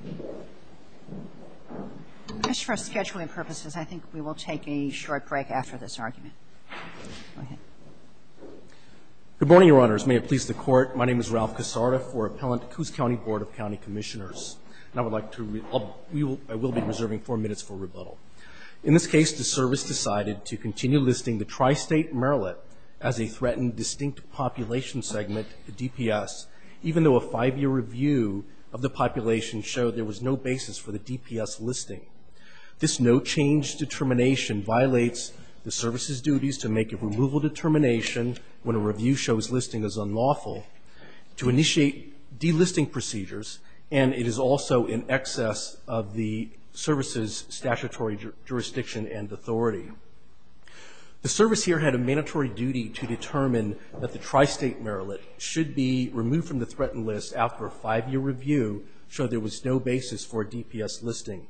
Good morning, Your Honors. May it please the Court, my name is Ralph Casarda for Appellant Coos County Board of County Commissioners, and I will be reserving four minutes for rebuttal. In this case, the Service decided to continue listing the tri-state Marillet as a threatened distinct population segment, the DPS, even though a five-year review of the population showed there was no basis for the DPS listing. This no-change determination violates the Service's duties to make a removal determination when a review shows listing is unlawful, to initiate delisting procedures, and it is also in excess of the Service's statutory jurisdiction and authority. The Service here had a mandatory duty to determine that the tri-state Marillet should be removed from the threatened list after a five-year review showed there was no basis for a DPS listing.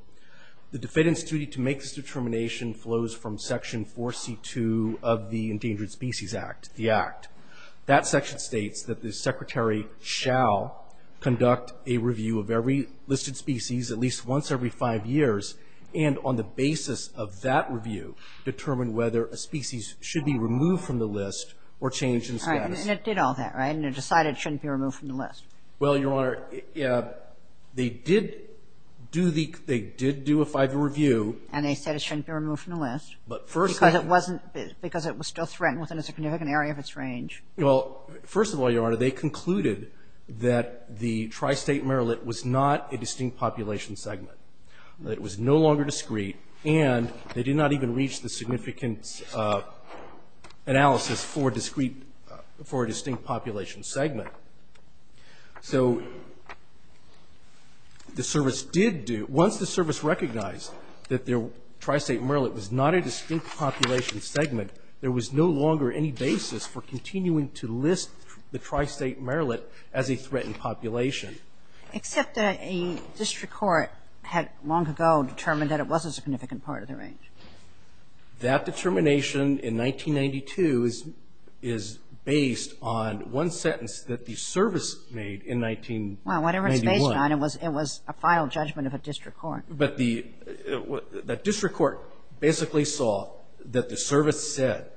The defendant's duty to make this determination flows from Section 4C.2 of the Endangered Species Act, the Act. That section states that the Secretary shall conduct a review of every listed species at least once every five years, and on the basis of that review, determine whether a species should be removed from the list or changed in status. And it did all that, right? And it decided it shouldn't be removed from the list. Well, Your Honor, they did do the — they did do a five-year review. And they said it shouldn't be removed from the list. But first — Because it wasn't — because it was still threatened within a significant area of its range. Well, first of all, Your Honor, they concluded that the tri-state Marillet was not a distinct population segment, that it was no longer discrete, and they did not even reach the significant analysis for a discrete — for a distinct population segment. So the service did do — once the service recognized that their tri-state Marillet was not a distinct population segment, there was no longer any basis for continuing to list the tri-state Marillet as a threatened population. Except that a district court had long ago determined that it wasn't a significant part of the range. That determination in 1992 is based on one sentence that the service made in 1991. Well, whatever it's based on, it was a final judgment of a district court. But the — the district court basically saw that the service said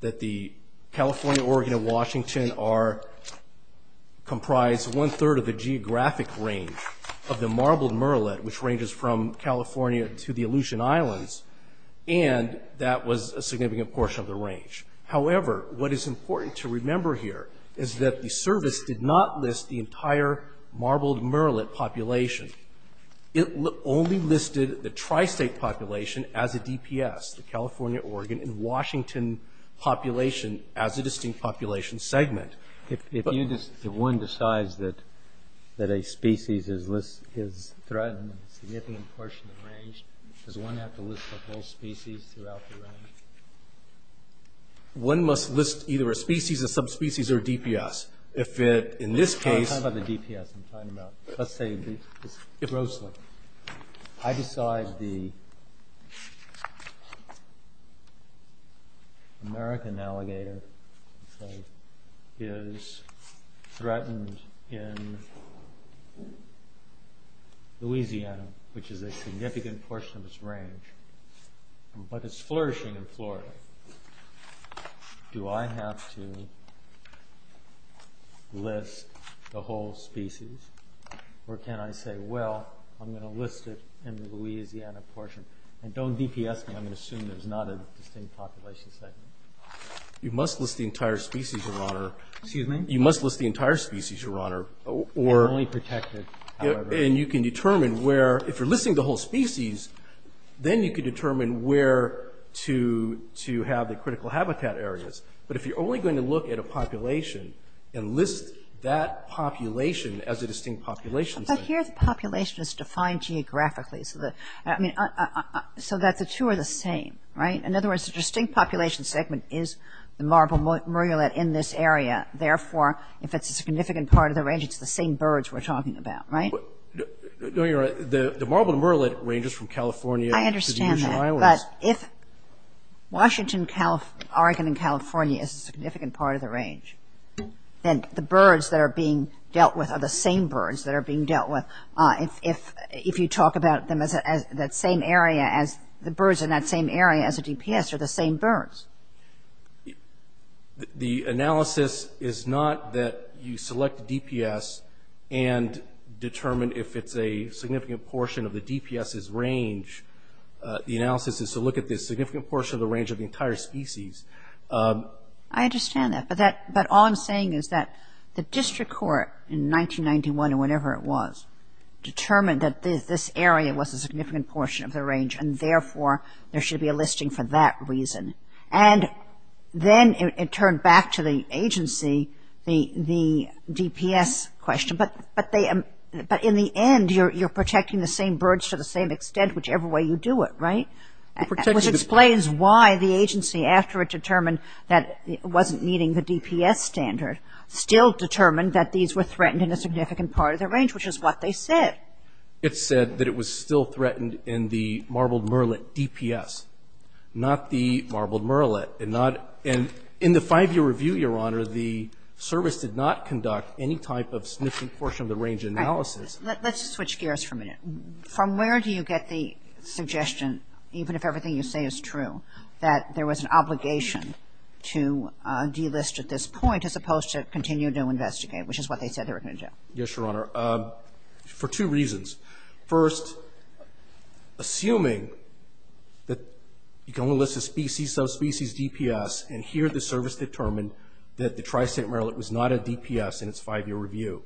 that the California, Oregon, and Washington are — comprise one-third of the geographic range of the Marbled Marillet, which ranges from California to the Aleutian Islands, and that was a significant portion of the range. However, what is important to remember here is that the service did not list the entire Marbled Marillet population. It only listed the tri-state population as a DPS, the California, Oregon, and Washington population as a distinct population segment. If you — if one decides that a species is threatened in a significant portion of the range, does one have to list the whole species throughout the range? One must list either a species, a subspecies, or a DPS. If it — in this case — I'm talking about the DPS. I'm talking about — let's say, grossly. I decide the American alligator, let's say, is threatened in Louisiana, which is a significant portion of its range, but it's flourishing in Florida. Do I have to list the whole species, or can I say, well, I'm going to list it in the Louisiana portion, and don't DPS me. I'm going to assume there's not a distinct population segment. You must list the entire species, Your Honor. Excuse me? You must list the entire species, Your Honor, or — Only protected, however. And you can determine where — if you're listing the whole species, then you can determine where to have the critical habitat areas. But if you're only going to look at a population and list that population as a distinct population segment — But here the population is defined geographically, so that — I mean, so that the two are the same, right? In other words, the distinct population segment is the marble murrelet in this area. Therefore, if it's a significant part of the range, it's the same birds we're talking about, right? No, Your Honor. The marble murrelet ranges from California — I understand that. But if Washington, Oregon, and California is a significant part of the range, then the birds that are being dealt with are the same birds that are being dealt with. If you talk about them as that same area as — the birds in that same area as a DPS are the same birds. The analysis is not that you select a DPS and determine if it's a significant portion of the DPS's range. The analysis is to look at the significant portion of the range of the entire species. I understand that. But that — but all I'm saying is that the district court in 1991 or whenever it was determined that this area was a significant portion of the range, and therefore there should be a listing for that reason. And then it turned back to the agency, the DPS question. But they — but in the end, you're protecting the same birds to the same extent, whichever way you do it. Right? Which explains why the agency, after it determined that it wasn't meeting the DPS standard, still determined that these were threatened in a significant part of the range, which is what they said. It said that it was still threatened in the marbled murrelet DPS, not the marbled murrelet. And not — and in the five-year review, Your Honor, the service did not conduct any type Let's switch gears for a minute. From where do you get the suggestion, even if everything you say is true, that there was an obligation to delist at this point as opposed to continue to investigate, which is what they said they were going to do? Yes, Your Honor. For two reasons. First, assuming that you can only list a species, subspecies DPS, and here the service determined that the tri-state murrelet was not a DPS in its five-year review.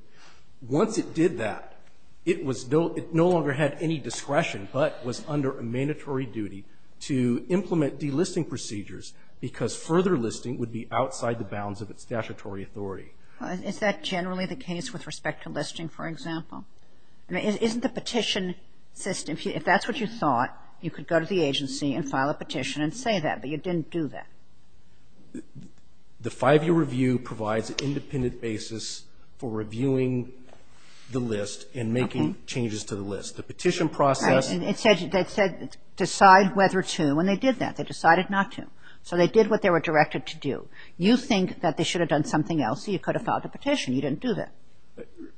Once it did that, it was — it no longer had any discretion but was under a mandatory duty to implement delisting procedures because further listing would be outside the bounds of its statutory authority. Is that generally the case with respect to listing, for example? Isn't the petition system — if that's what you thought, you could go to the agency and file a petition and say that, but you didn't do that? The five-year review provides an independent basis for reviewing the list and making changes to the list. The petition process — Right. And it said decide whether to, and they did that. They decided not to. So they did what they were directed to do. You think that they should have done something else, so you could have filed a petition. You didn't do that.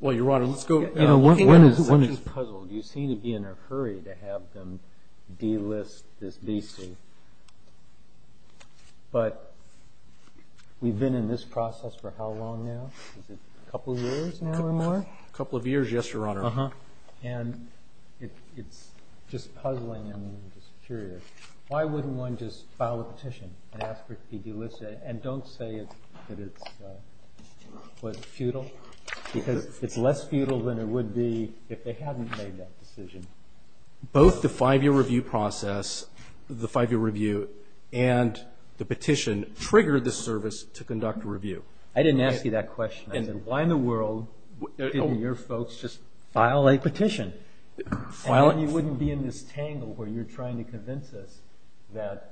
Well, Your Honor, let's go — You know, one is puzzled. You seem to be in a hurry to have them delist this beastly, but we've been in this process for how long now? Is it a couple of years now or more? A couple of years, yes, Your Honor. And it's just puzzling and I'm just curious. Why wouldn't one just file a petition and ask for it to be delisted, and don't say that it's futile, because it's less futile than it would be if they hadn't made that decision. Both the five-year review process, the five-year review, and the petition triggered the service to conduct a review. I didn't ask you that question. I said, why in the world didn't your folks just file a petition? And then you wouldn't be in this tangle where you're trying to convince us that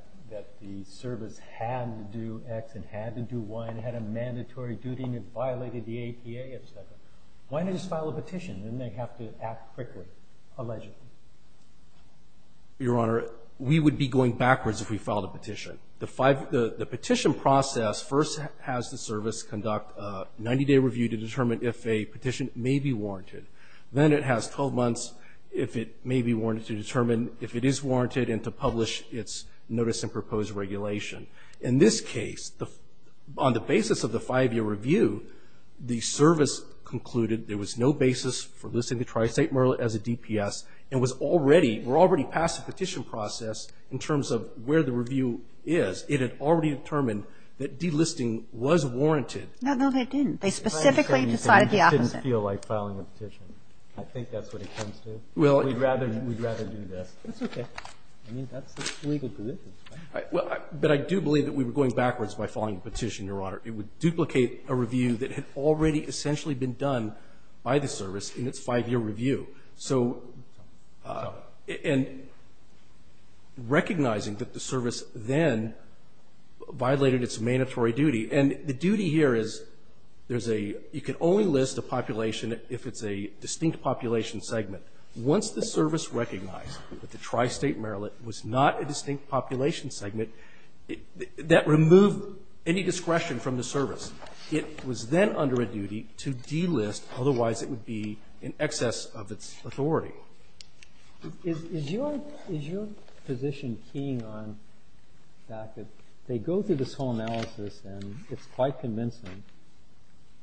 the service had to do X and had to do Y, and had a mandatory duty, and it violated the APA, et cetera. Why didn't they just file a petition? Didn't they have to act quickly, allegedly? Your Honor, we would be going backwards if we filed a petition. The petition process first has the service conduct a 90-day review to determine if a petition may be warranted. Then it has 12 months if it may be warranted to determine if it is warranted and to publish its notice and proposed regulation. In this case, on the basis of the five-year review, the service concluded there was no basis for listing the tri-state murder as a DPS and was already, were already past the petition process in terms of where the review is. It had already determined that delisting was warranted. No, no, they didn't. They specifically decided the opposite. It didn't feel like filing a petition. I think that's what it comes to. Well, we'd rather do this. It's okay. I mean, that's the legal deliverance. Well, but I do believe that we were going backwards by filing a petition, Your Honor. It would duplicate a review that had already essentially been done by the service in its five-year review. So and recognizing that the service then violated its mandatory duty, and the duty here is there's a, you can only list a population if it's a distinct population segment. Once the service recognized that the tri-state marillet was not a distinct population segment, that removed any discretion from the service. It was then under a duty to delist, otherwise it would be in excess of its authority. Is your, is your position keying on the fact that they go through this whole analysis and it's quite convincing,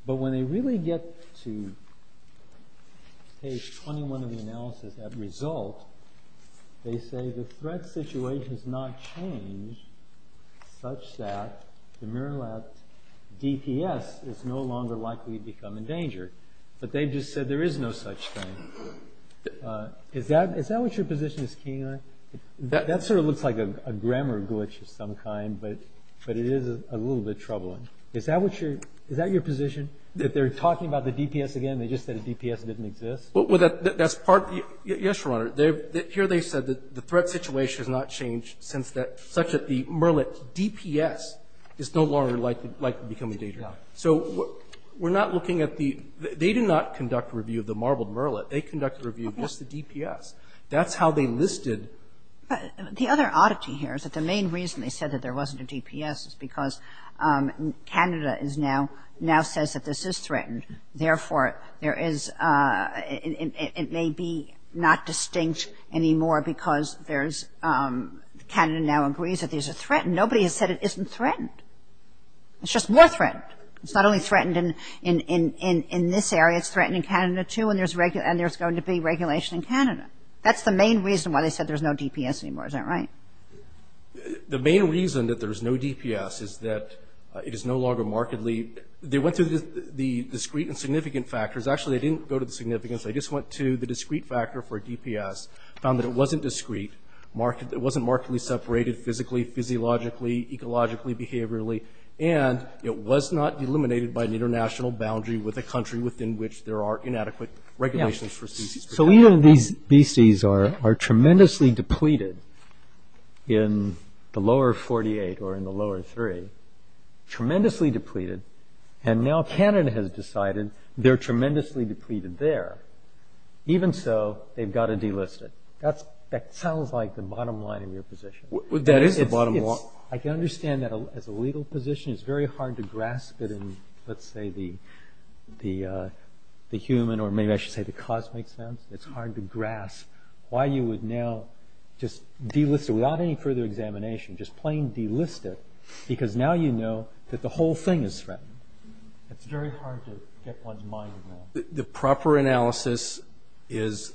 but when they really get to page 21 of the analysis, that result, they say the threat situation has not changed such that the marillet DPS is no longer likely to become endangered. But they just said there is no such thing. Is that, is that what your position is keying on? That sort of looks like a grammar glitch of some kind, but it is a little bit troubling. Is that what your, is that your position? That they're talking about the DPS again, they just said the DPS didn't exist? Well, that's part of the, yes, Your Honor. Here they said that the threat situation has not changed since that, such that the marillet DPS is no longer likely to become endangered. So we're not looking at the, they did not conduct a review of the marbled marillet. They conducted a review of just the DPS. That's how they listed. But the other oddity here is that the main reason they said that there wasn't a DPS is because Canada is now, now says that this is threatened. Therefore, there is it may be not distinct anymore because there's Canada now agrees that these are threatened. Nobody has said it isn't threatened. It's just more threatened. It's not only threatened in, in, in, in, in this area, it's threatened in Canada too and there's going to be regulation in Canada. That's the main reason why they said there's no DPS anymore. Is that right? The main reason that there's no DPS is that it is no longer markedly, they went through the, the discrete and significant factors. Actually, they didn't go to the significance. They just went to the discrete factor for DPS, found that it wasn't discrete, marked, it wasn't markedly separated physically, physiologically, ecologically, behaviorally, and it was not eliminated by an international boundary with a country within which there are inadequate regulations for species. So even if these, these species are, are tremendously depleted in the lower 48 or in the lower three, tremendously depleted, and now Canada has decided they're tremendously depleted there, even so, they've got to delist it. That's, that sounds like the bottom line of your position. Well, that is the bottom line. I can understand that as a legal position, it's very hard to grasp it in, let's say, the, the, the human or maybe I should say the cosmic sense. It's hard to grasp why you would now just delist it without any further examination, just plain delist it, because now you know that the whole thing is threatened. It's very hard to get one's mind around. The proper analysis is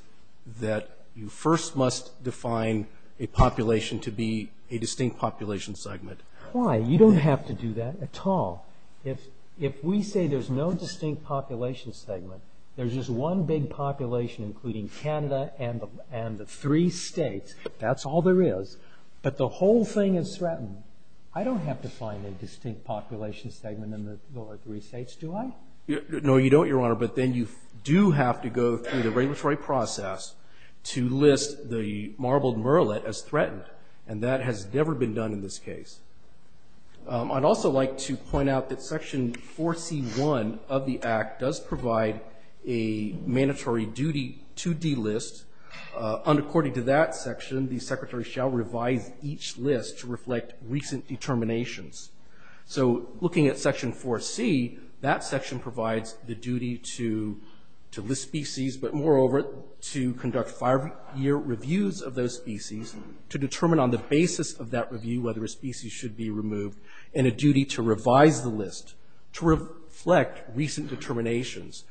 that you first must define a population to be a distinct population segment. Why? You don't have to do that at all. If, if we say there's no distinct population segment, there's just one big population including Canada and the, and the three states. That's all there is. But the whole thing is threatened. I don't have to find a distinct population segment in the lower three states, do I? No, you don't, your honor. But then you do have to go through the regulatory process to list the marbled murrelet as threatened. And that has never been done in this case. I'd also like to point out that section 4C1 of the act does provide a mandatory duty to delist. And according to that section, the secretary shall revise each list to reflect recent determinations. So looking at section 4C, that section provides the duty to, to list species, but moreover to conduct five-year reviews of those species to determine on the basis of that review whether a species should be removed, and a duty to revise the list to reflect recent determinations.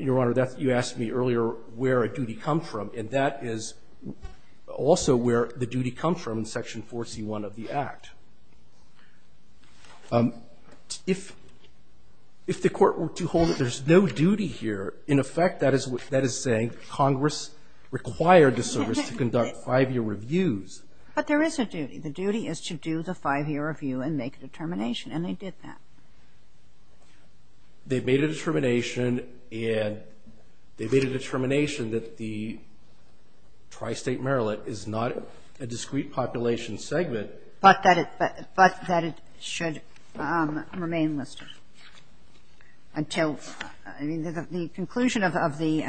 Your honor, that's, you asked me earlier where a duty comes from. And that is also where the duty comes from in section 4C1 of the act. If, if the court were to hold that there's no duty here, in effect, that is what, that is saying Congress required the service to conduct five-year reviews. But there is a duty. The duty is to do the five-year review and make a determination. And they did that. They made a determination, and they made a determination that the tri-state murrelet is not a discrete population segment. But that it, but, but that it should remain listed. Until, I mean, the, the conclusion of, of the,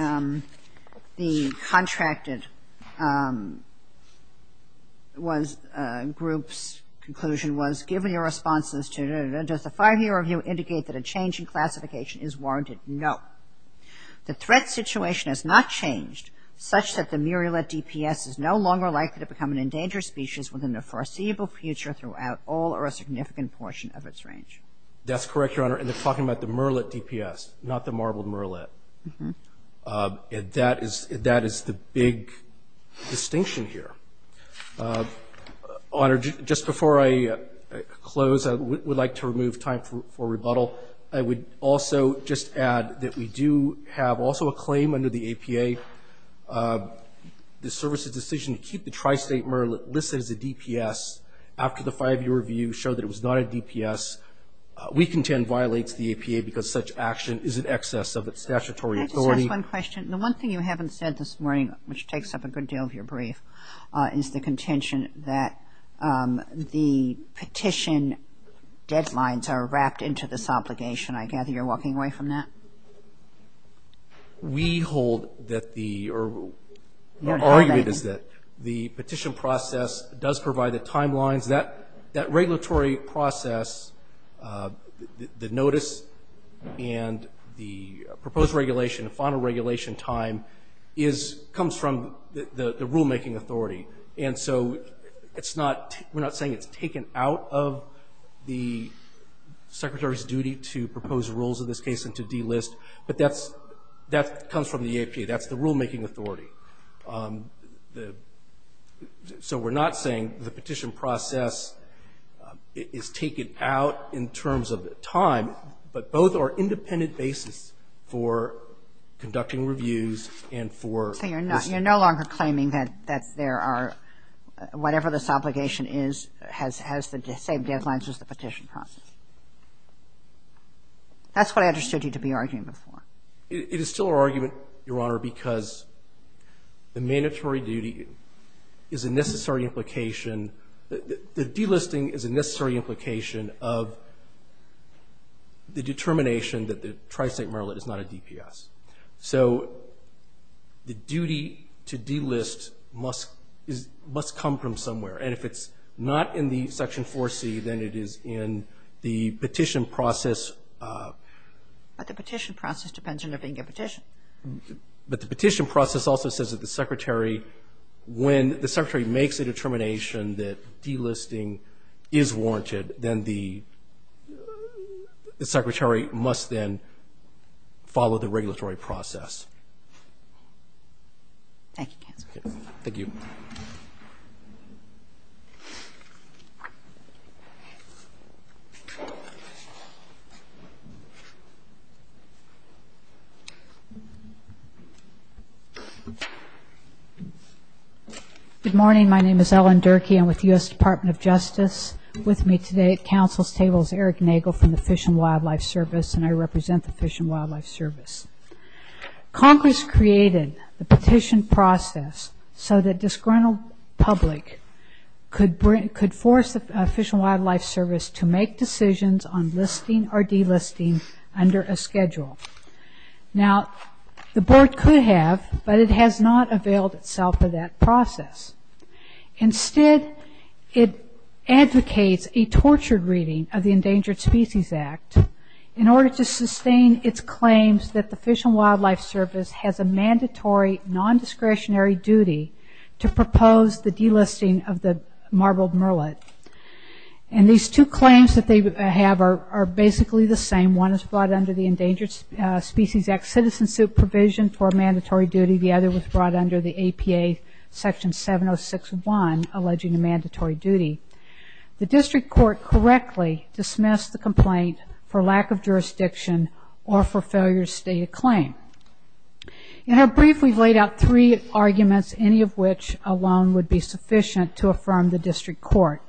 the contracted was, group's conclusion was given your responses to, does the five-year review indicate that a change in classification is warranted? No. The threat situation has not changed such that the murrelet DPS is no longer likely to become an endangered species within the foreseeable future throughout all or a significant portion of its range. That's correct, Your Honor. And they're talking about the murrelet DPS, not the marbled murrelet. And that is, that is the big distinction here. Honor, just before I close, I would like to remove time for, for rebuttal. I would also just add that we do have also a claim under the APA, the service's decision to keep the tri-state murrelet listed as a DPS after the five-year review showed that it was not a DPS, we contend violates the APA because such action is in excess of its statutory authority. Can I just ask one question? The one thing you haven't said this morning, which takes up a good deal of your brief, is the contention that the petition deadlines are wrapped into this obligation. I gather you're walking away from that? We hold that the, or our argument is that the petition process does provide the timelines. That, that regulatory process, the notice and the proposed regulation, the final regulation time is, comes from the, the rulemaking authority. And so it's not, we're not saying it's taken out of the secretary's duty to propose rules in this case and to delist, but that's, that comes from the APA. That's the rulemaking authority. The, so we're not saying the petition process is taken out in terms of time, but both are independent basis for conducting reviews and for. So you're not, you're no longer claiming that, that there are, whatever this obligation is has, has the same deadlines as the petition process. That's what I understood you to be arguing before. It is still our argument, Your Honor, because the mandatory duty is a necessary implication, the delisting is a necessary implication of the determination that the Tri-State Maryland is not a DPS. So the duty to delist must, is, must come from somewhere. And if it's not in the section 4C, then it is in the petition process. But the petition process depends on if they can get a petition. But the petition process also says that the secretary, when the secretary makes a determination that delisting is warranted, then the secretary must then follow the regulatory process. Thank you, counsel. Thank you. Good morning. My name is Ellen Durkee. I'm with the U.S. Department of Justice. With me today at counsel's table is Eric Nagel from the Fish and Wildlife Service, and I represent the Fish and Wildlife Service. Congress created the petition process so that disgruntled public could bring, could force the Fish and Wildlife Service to make decisions on listing or delisting under a schedule. Now, the board could have, but it has not availed itself of that process. Instead, it advocates a tortured reading of the Endangered Species Act in order to sustain its claims that the Fish and Wildlife Service has a mandatory non-discretionary duty to propose the delisting of the marbled murrelet. And these two claims that they have are basically the same. One is brought under the Endangered Species Act citizen suit provision for a mandatory duty. The other was brought under the APA Section 706-1 alleging a mandatory duty. The district court correctly dismissed the complaint for lack of jurisdiction or for failure to state a claim. In our brief, we've laid out three arguments, any of which alone would be sufficient to affirm the district court.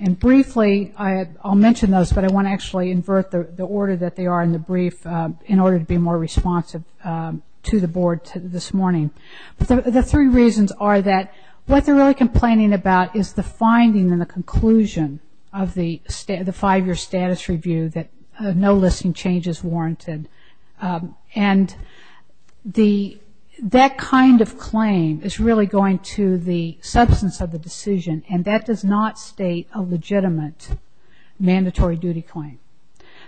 And briefly, I'll mention those, but I want to actually invert the order that they are in the brief in order to be more responsive to the board this morning. The three reasons are that what they're really complaining about is the finding and the conclusion of the five-year status review that no listing change is warranted. And that kind of claim is really going to the substance of the decision, and that does not state a legitimate mandatory duty claim.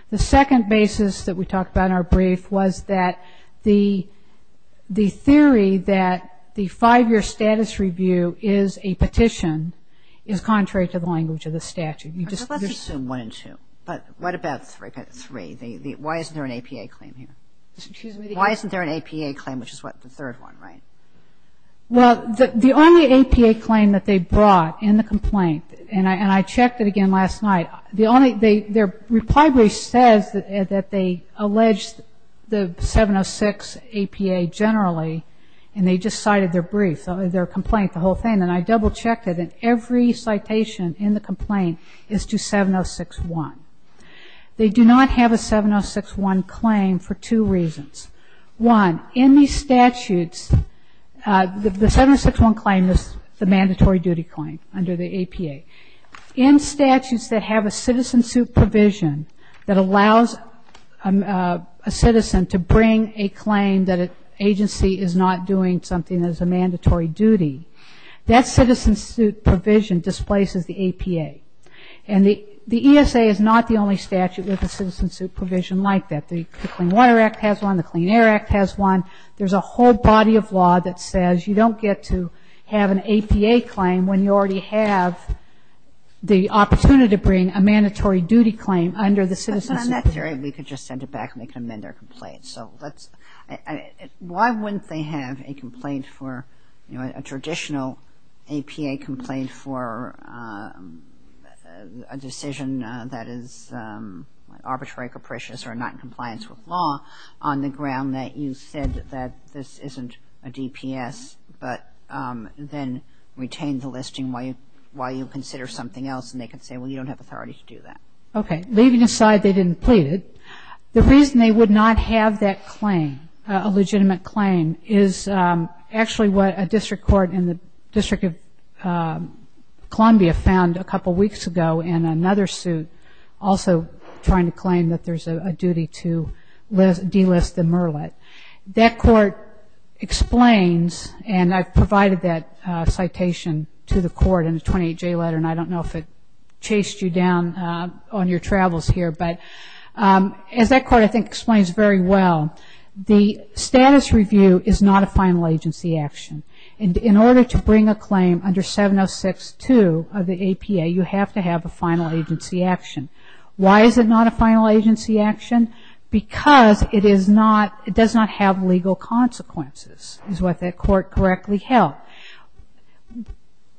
The second basis that we talked about in our brief was that the theory that the five-year status review is a petition is contrary to the language of the statute. You just assume one and two. But what about three? Why isn't there an APA claim here? Why isn't there an APA claim, which is what, the third one, right? Well, the only APA claim that they brought in the complaint, and I checked it again last night, the only, their reply brief says that they alleged the 706 APA generally, and they just cited their brief, their complaint, the whole thing. And I double-checked it, and every citation in the complaint is to 706-1. They do not have a 706-1 claim for two reasons. One, in these statutes, the 706-1 claim is the mandatory duty claim under the APA. In statutes that have a citizen suit provision that allows a citizen to bring a claim that an agency is not doing something that is a mandatory duty, that citizen suit provision displaces the APA. And the ESA is not the only statute with a citizen suit provision like that. The Clean Water Act has one. The Clean Air Act has one. There's a whole body of law that says you don't get to have an APA claim when you already have the opportunity to bring a mandatory duty claim under the citizen suit. But on that theory, we could just send it back, and they can amend their complaint. So let's, I mean, why wouldn't they have a complaint for, you know, a traditional APA complaint for a decision that is arbitrary, capricious, or not in compliance with law on the ground that you said that this isn't a DPS, but then retain the listing while you consider something else, and they could say, well, you don't have authority to do that. Okay. Leaving aside they didn't plead it, the reason they would not have that claim, a legitimate claim, is actually what a district court in the District of Columbia found a couple of weeks ago in another suit also trying to claim that there's a duty to delist the MERLIT. That court explains, and I've provided that citation to the court in a 28-J letter, and I don't know if it chased you down on your travels here. But as that court, I think, explains very well, the status review is not a final agency action. In order to bring a claim under 706-2 of the APA, you have to have a final agency action. Why is it not a final agency action? Because it is not, it does not have legal consequences, is what that court correctly held.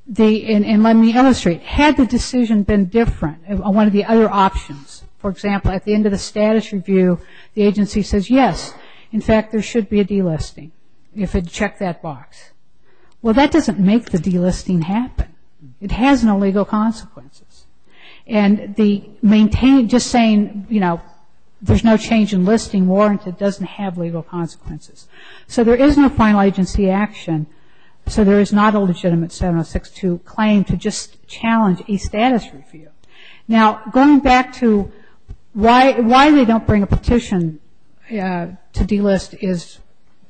The, and let me illustrate, had the decision been different, one of the other options, for example, at the end of the status review, the agency says, yes, in fact, there should be a delisting if it checked that box. Well, that doesn't make the delisting happen. It has no legal consequences. And the maintain, just saying, you know, there's no change in listing warrant, it doesn't have legal consequences. So there is no final agency action, so there is not a legitimate 706-2 claim to just challenge a status review. Now, going back to why they don't bring a petition to delist is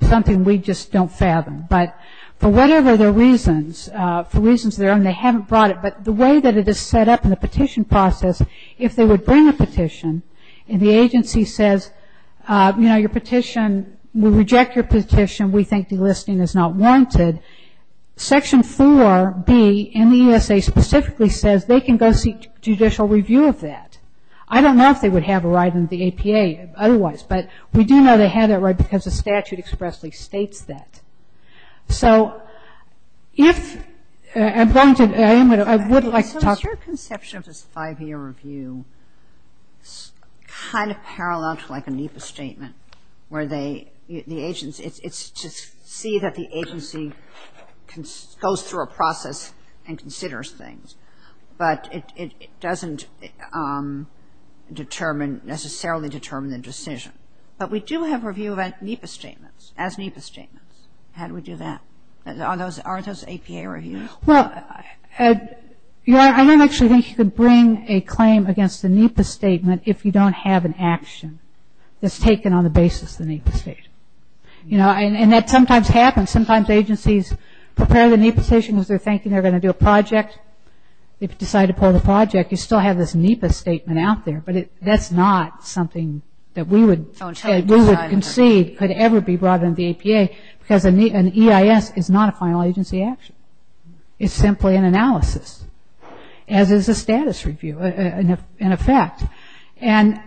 something we just don't fathom. But for whatever their reasons, for reasons of their own, they haven't brought it, but the way that it is set up in the petition process, if they would bring a petition and the agency says, you know, your petition, we reject your petition, we think delisting is not warranted. Section 4B in the ESA specifically says they can go seek judicial review of that. I don't know if they would have a right in the APA otherwise, but we do know they had that right because the statute expressly states that. So if, I'm going to, I would like to talk to you. So is your conception of this five-year review kind of parallel to like a NEPA statement where the agency, it's to see that the agency goes through a process and considers things, but it doesn't determine, necessarily determine the decision. But we do have review of NEPA statements, as NEPA statements. How do we do that? Are those APA reviews? Well, Ed, I don't actually think you could bring a claim against a NEPA statement if you don't have an action that's taken on the basis of the NEPA statement. You know, and that sometimes happens. Sometimes agencies prepare the NEPA statement because they're thinking they're going to do a project. If you decide to pull the project, you still have this NEPA statement out there, but that's not something that we would concede could ever be brought into the APA because an EIS is not a final agency action. It's simply an analysis, as is a status review, in effect. And,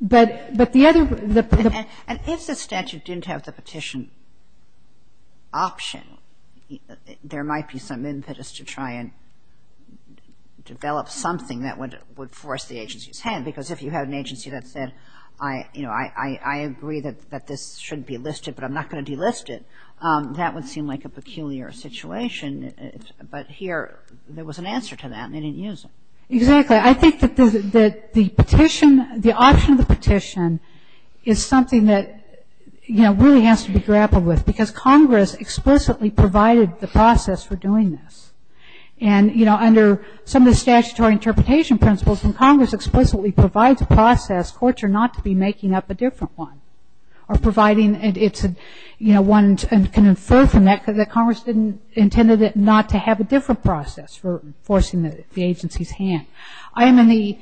but the other, the- And if the statute didn't have the petition option, there might be some impetus to try and develop something that would force the agency's hand. Because if you have an agency that said, you know, I agree that this shouldn't be listed, but I'm not going to delist it, that would seem like a peculiar situation. But here, there was an answer to that, and they didn't use it. Exactly. I think that the petition, the option of the petition is something that, you know, really has to be grappled with because Congress explicitly provided the process for doing this. And, you know, under some of the statutory interpretation principles, when Congress explicitly provides a process, courts are not to be making up a different one or providing it's a, you know, one that can infer from that because the Congress didn't, intended it not to have a different process for forcing the agency's hand. I am in the,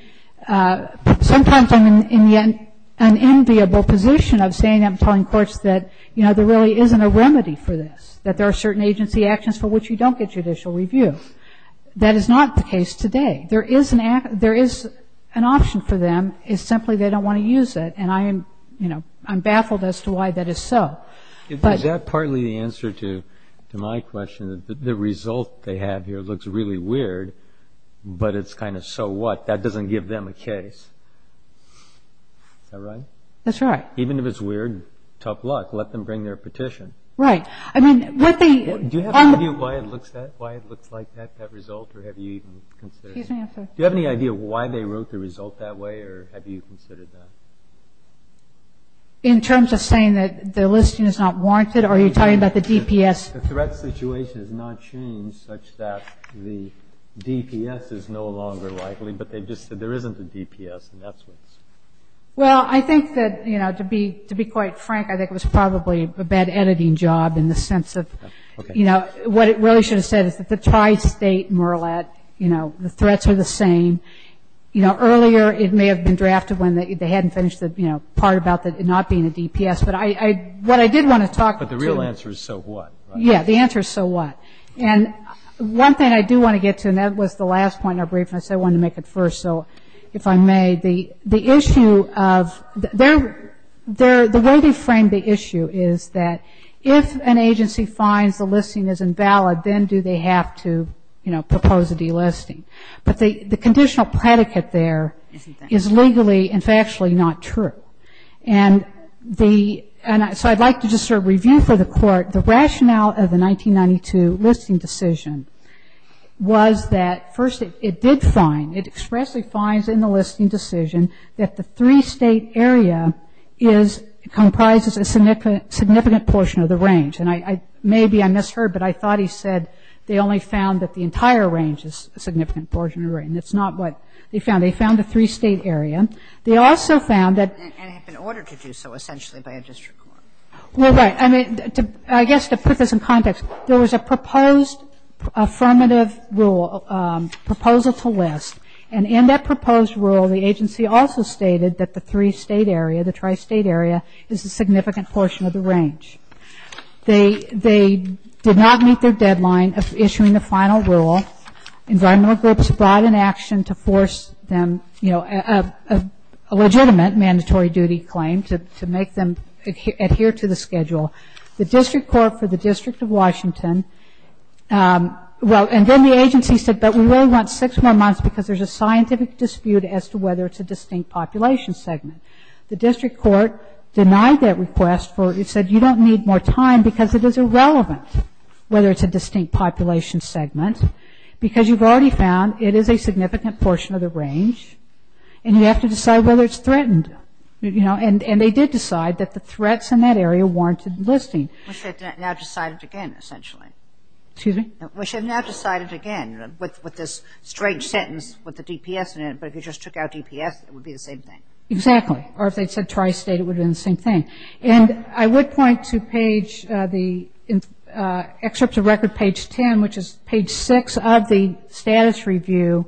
sometimes I'm in an enviable position of saying, I'm telling courts that, you know, there really isn't a remedy for this, that there are certain agency actions for which you don't get judicial review. That is not the case today. There is an option for them, it's simply they don't want to use it. And I am, you know, I'm baffled as to why that is so. Is that partly the answer to my question, that the result they have here looks really weird, but it's kind of so what, that doesn't give them a case? Is that right? That's right. Even if it's weird, tough luck. Let them bring their petition. Right. I mean, with the- Do you have any idea why it looks like that, that result, or have you even considered- Excuse me, I have to- In terms of saying that the listing is not warranted, or are you talking about the DPS? The threat situation has not changed such that the DPS is no longer likely, but they just said there isn't a DPS, and that's what's- Well, I think that, you know, to be quite frank, I think it was probably a bad editing job in the sense of, you know, what it really should have said is that the tri-State MERLAT, you know, the threats are the same. You know, earlier it may have been drafted when they hadn't finished the, you know, part about it not being a DPS, but what I did want to talk to- But the real answer is, so what? Yeah, the answer is, so what? And one thing I do want to get to, and that was the last point in our brief, and I said I wanted to make it first, so if I may, the issue of- The way they framed the issue is that if an agency finds the listing is invalid, then do they have to, you know, propose a delisting? But the conditional predicate there is legally and factually not true. And so I'd like to just sort of review for the Court the rationale of the 1992 listing decision was that, first, it did find, it expressly finds in the listing decision that the three-State area comprises a significant portion of the range. And maybe I misheard, but I thought he said they only found that the entire range is a significant portion of the range, and it's not what they found. They found a three-State area. They also found that- And it had been ordered to do so, essentially, by a district court. Well, right. I mean, I guess to put this in context, there was a proposed affirmative rule, proposal to list, and in that proposed rule, the agency also stated that the three-State area, the tri-State area, is a significant portion of the range. They did not meet their deadline of issuing the final rule. Environmental groups brought in action to force them, you know, a legitimate mandatory duty claim to make them adhere to the schedule. The district court for the District of Washington, well, and then the agency said, but we really want six more months because there's a scientific dispute as to whether it's a distinct population segment. The district court denied that request for, it said you don't need more time because it is irrelevant whether it's a distinct population segment because you've already found it is a significant portion of the range, and you have to decide whether it's threatened, you know, and they did decide that the threats in that area warranted listing. Which they've now decided again, essentially. Excuse me? Which they've now decided again with this strange sentence with the DPS in it, but if you just took out DPS, it would be the same thing. Exactly. Or if they'd said tri-state, it would have been the same thing. And I would point to page, the excerpt to record page 10, which is page 6 of the status review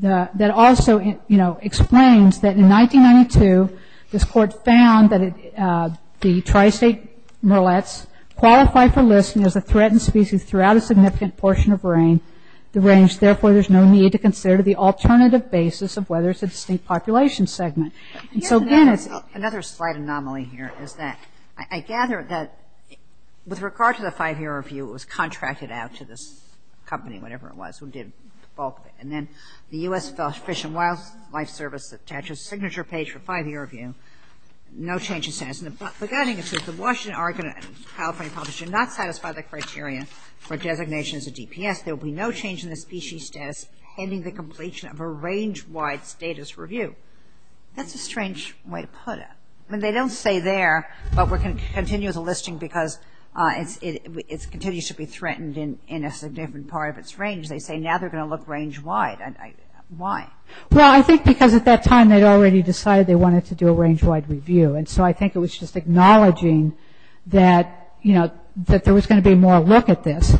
that also, you know, explains that in 1992, this court found that the tri-state mullets qualify for listing as a threatened species throughout a significant portion of range, therefore there's no need to consider the And so again, it's another slight anomaly here is that I gather that with regard to the five-year review, it was contracted out to this company, whatever it was, who did the bulk of it. And then the U.S. Fish and Wildlife Service attaches signature page for five-year review, no change in status. And the beginning, it says the Washington, Oregon, and California published do not satisfy the criteria for designation as a DPS. There will be no change in the species status ending the completion of a range-wide status review. That's a strange way to put it. I mean, they don't say there, but we're going to continue with the listing because it continues to be threatened in a significant part of its range. They say now they're going to look range-wide. Why? Well, I think because at that time, they'd already decided they wanted to do a range-wide review. And so I think it was just acknowledging that, you know, that there was going to be more look at this.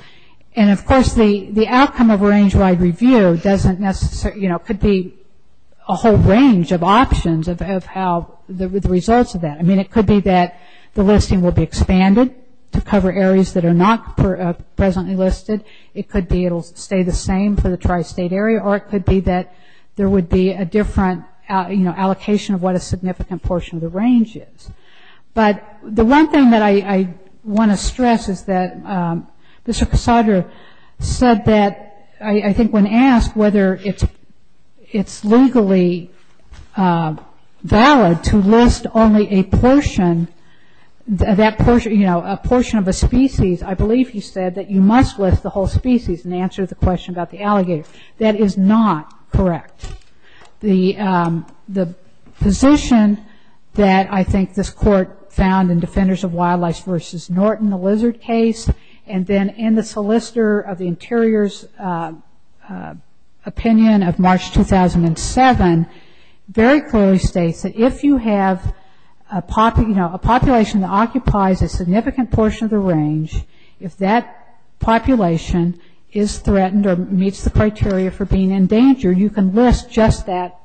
And of course, the outcome of a range-wide review doesn't necessarily, you know, could be a whole range of options of how the results of that. I mean, it could be that the listing will be expanded to cover areas that are not presently listed. It could be it'll stay the same for the tri-state area, or it could be that there would be a different, you know, allocation of what a significant portion of the range is. But the one thing that I want to stress is that Mr. Cassadre said that, I think, when asked whether it's legally valid to list only a portion, that portion, you know, a portion of a species, I believe he said that you must list the whole species in answer to the question about the alligator. That is not correct. The position that I think this court found in Defenders of Wildlife versus Norton, the lizard case, and then in the solicitor of the Interior's opinion of March 2007, very clearly states that if you have, you know, a population that occupies a significant portion of the range, if that population is threatened or meets the criteria for being in danger, you can list just that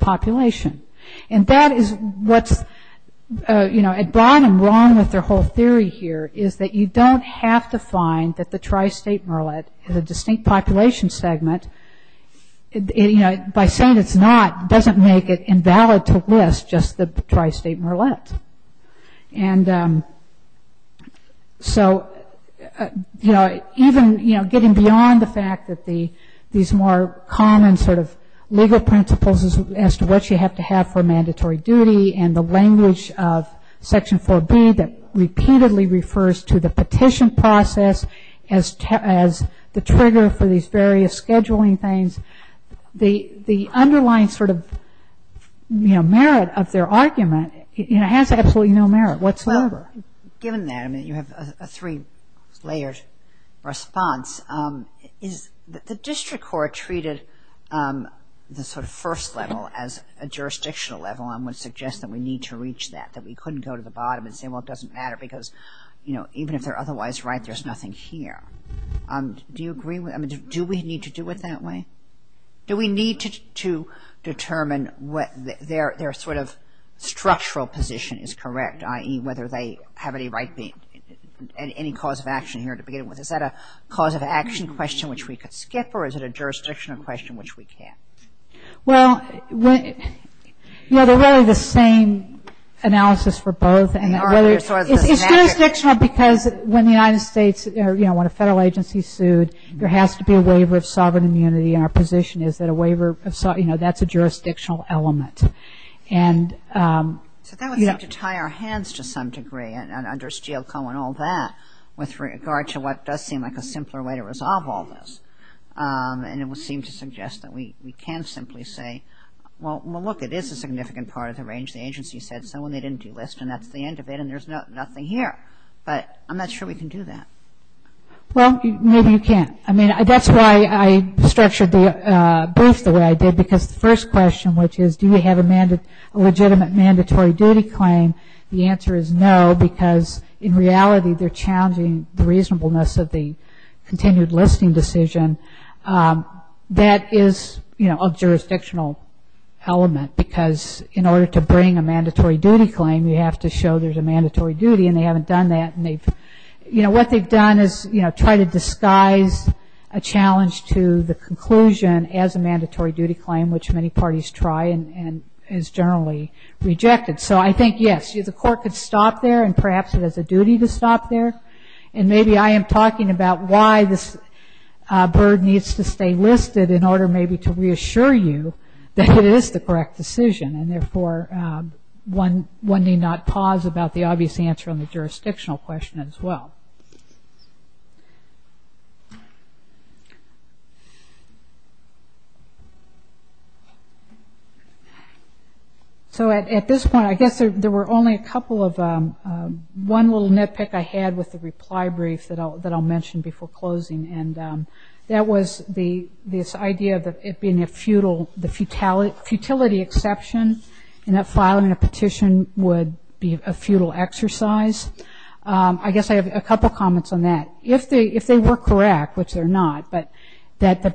population. And that is what's, you know, at bottom wrong with their whole theory here, is that you don't have to find that the tri-state merlet is a distinct population segment. You know, by saying it's not doesn't make it invalid to list just the tri-state merlet. And so, you know, even, you know, getting beyond the fact that these more common sort of legal principles as to what you have to have for mandatory duty and the language of Section 4B that repeatedly refers to the petition process as the trigger for these various scheduling things, the underlying sort of, you know, merit of their argument, you know, has absolutely no merit whatsoever. Given that, I mean, you have a three-layered response, is the district court treated the sort of first level as a jurisdictional level and would suggest that we need to reach that, that we couldn't go to the bottom and say, well, it doesn't matter because, you know, even if they're otherwise right, there's nothing here. Do you agree with, I mean, do we need to do it that way? Do we need to determine what their sort of structural position is correct, i.e., whether they have any right being, any cause of action here to begin with, is that a cause of action question which we could skip or is it a jurisdictional question which we can't? Well, you know, they're really the same analysis for both. And it's jurisdictional because when the United States, you know, when a federal agency sued, there has to be a waiver of sovereign immunity and our position is that a waiver of, you know, that's a jurisdictional element. And, you know. So that would have to tie our hands to some degree under Steel Co. and all that with regard to what does seem like a simpler way to resolve all this and it would seem to suggest that we can simply say, well, look, it is a significant part of the range. The agency said so when they didn't do list and that's the end of it and there's nothing here, but I'm not sure we can do that. Well, maybe you can. I mean, that's why I structured the brief the way I did because the first question, which is do we have a legitimate mandatory duty claim? The answer is no because in reality they're challenging the reasonableness of the continued listing decision that is, you know, a jurisdictional element because in order to bring a mandatory duty claim, you have to show there's a mandatory duty and they haven't done that and they've, you know, what they've done is, you know, try to disguise a challenge to the conclusion as a parties try and is generally rejected. So I think, yes, the court could stop there and perhaps it has a duty to stop there and maybe I am talking about why this burden needs to stay listed in order maybe to reassure you that it is the correct decision and therefore one need not pause about the obvious answer on the jurisdictional question as well. So at this point, I guess there were only a couple of, one little nitpick I had with the reply brief that I'll mention before closing and that was the, this idea that it being a futile, the futility exception in that filing a petition would be a futile exercise. I guess I have a couple comments on that. If they were correct, which they're not, but that the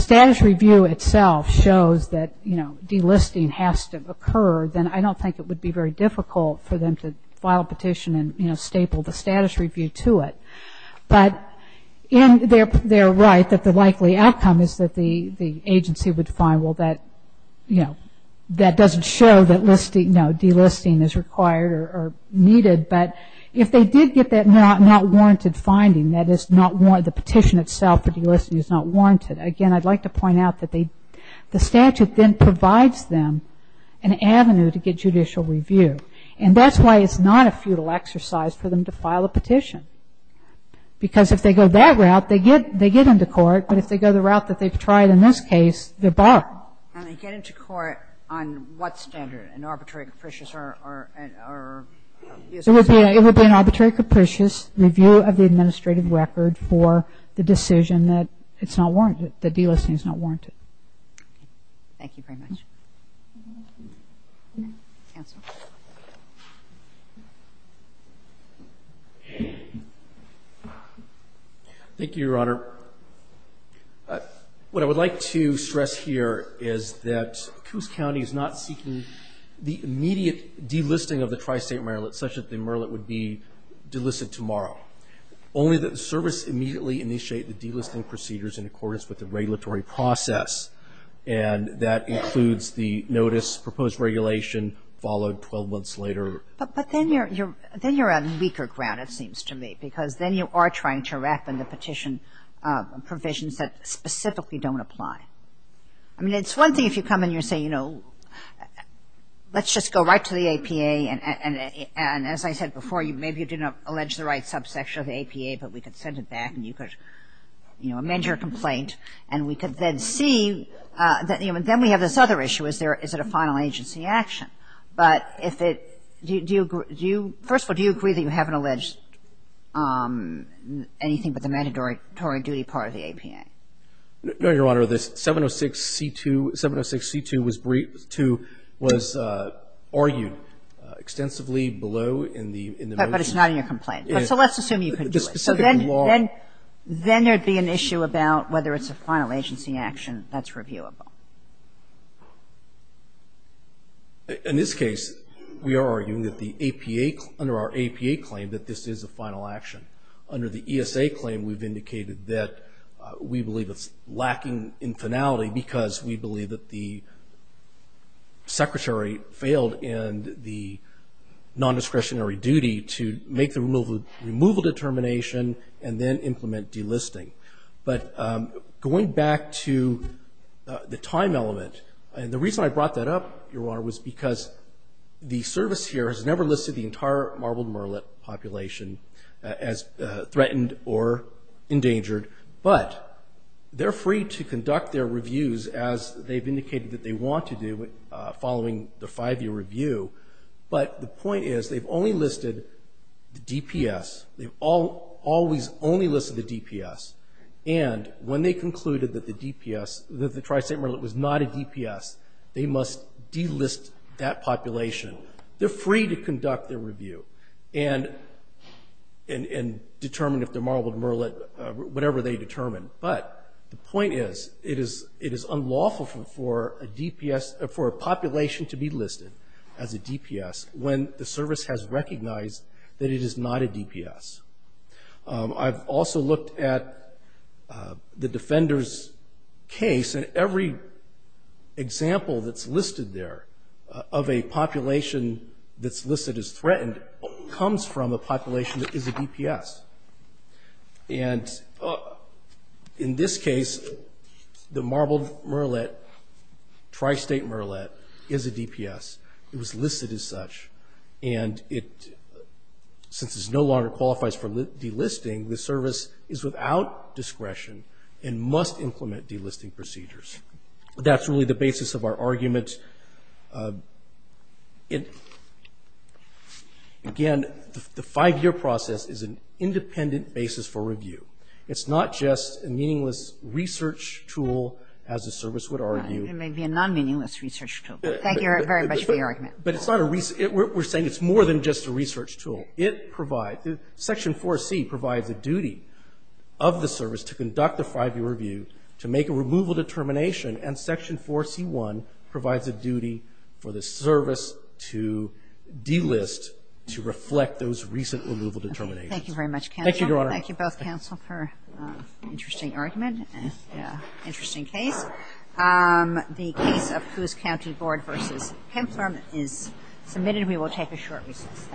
status review itself shows that, you know, delisting has to occur, then I don't think it would be very difficult for them to file a petition and, you know, staple the status review to it. But in their right that the likely outcome is that the agency would find, well, that, you know, that doesn't show that listing, no, delisting is required or needed, but if they did get that not warranted finding, that is not, the petition itself for delisting is not warranted, again, I'd like to point out that they, the statute then provides them an avenue to get judicial review and that's why it's not a futile exercise for them to file a petition because if they go that route, they get, they get into court, but if they go the route that they've tried in this case, they're barred. And they get into court on what standard, an arbitrary, capricious, or, or, or It would be an arbitrary, capricious review of the administrative record for the decision that it's not warranted, that delisting is not warranted. Thank you very much. Thank you, Your Honor. What I would like to stress here is that Coos County is not seeking the immediate delisting of the Tri-State Merillet such that the Merillet would be delisted tomorrow, only that the service immediately initiate the delisting procedures in accordance with the regulatory process and that includes the notice, proposed regulation, followed 12 months later. But, but then you're, you're, then you're on weaker ground, it seems to me, because then you are trying to wrap in the petition provisions that specifically don't apply. I mean, it's one thing if you come in and you're saying, you know, let's just go right to the APA and, and, and as I said before, you, maybe you didn't allege the right subsection of the APA, but we could send it back and you could, you know, amend your complaint and we could then see that, you know, and then we have this other issue. Is there, is it a final agency action? But if it, do you, do you, do you, first of all, do you agree that you haven't alleged anything but the mandatory duty part of the APA? No, Your Honor. The 706C2, 706C2 was briefed to, was argued extensively below in the, in the motion. But, but it's not in your complaint. But, so let's assume you can do it. So then, then, then there'd be an issue about whether it's a final agency action that's reviewable. In this case, we are arguing that the APA, under our APA claim that this is a final action. Under the ESA claim, we've indicated that we believe it's lacking in finality because we believe that the Secretary failed in the nondiscretionary duty to make the removal, removal determination and then implement delisting. But going back to the time element, and the reason I brought that up, Your Honor, was because the service here has never listed the entire marbled murrelet population as threatened or endangered. But they're free to conduct their reviews as they've indicated that they want to do following the five-year review. But the point is, they've only listed the DPS. They've all, always only listed the DPS. And when they concluded that the DPS, that the tri-state murrelet was not a DPS, they must delist that population. They're free to conduct their review and, and, and determine if the marbled murrelet, whatever they determine. But the point is, it is, it is unlawful for a DPS, for a population to be listed as a DPS when the service has recognized that it is not a DPS. I've also looked at the defender's case and every example that's listed there of a population that's listed as threatened comes from a population that is a DPS. And in this case, the marbled murrelet, tri-state murrelet is a DPS. It was listed as such. And it, since it's no longer qualifies for delisting, the service is without discretion and must implement delisting procedures. That's really the basis of our argument. It, again, the five-year process is an independent basis for review. It's not just a meaningless research tool, as the service would argue. It may be a non-meaningless research tool. Thank you very much for your argument. But it's not a, we're saying it's more than just a research tool. It provides, Section 4C provides a duty of the service to conduct the five-year review, to make a removal determination, and Section 4C1 provides a duty for the service to delist, to reflect those recent removal determinations. Thank you very much, counsel. Thank you, Your Honor. Thank you both, counsel, for an interesting argument and an interesting case. The case of Coos County Board v. Kempthorne is submitted. We will take a short recess. Thank you.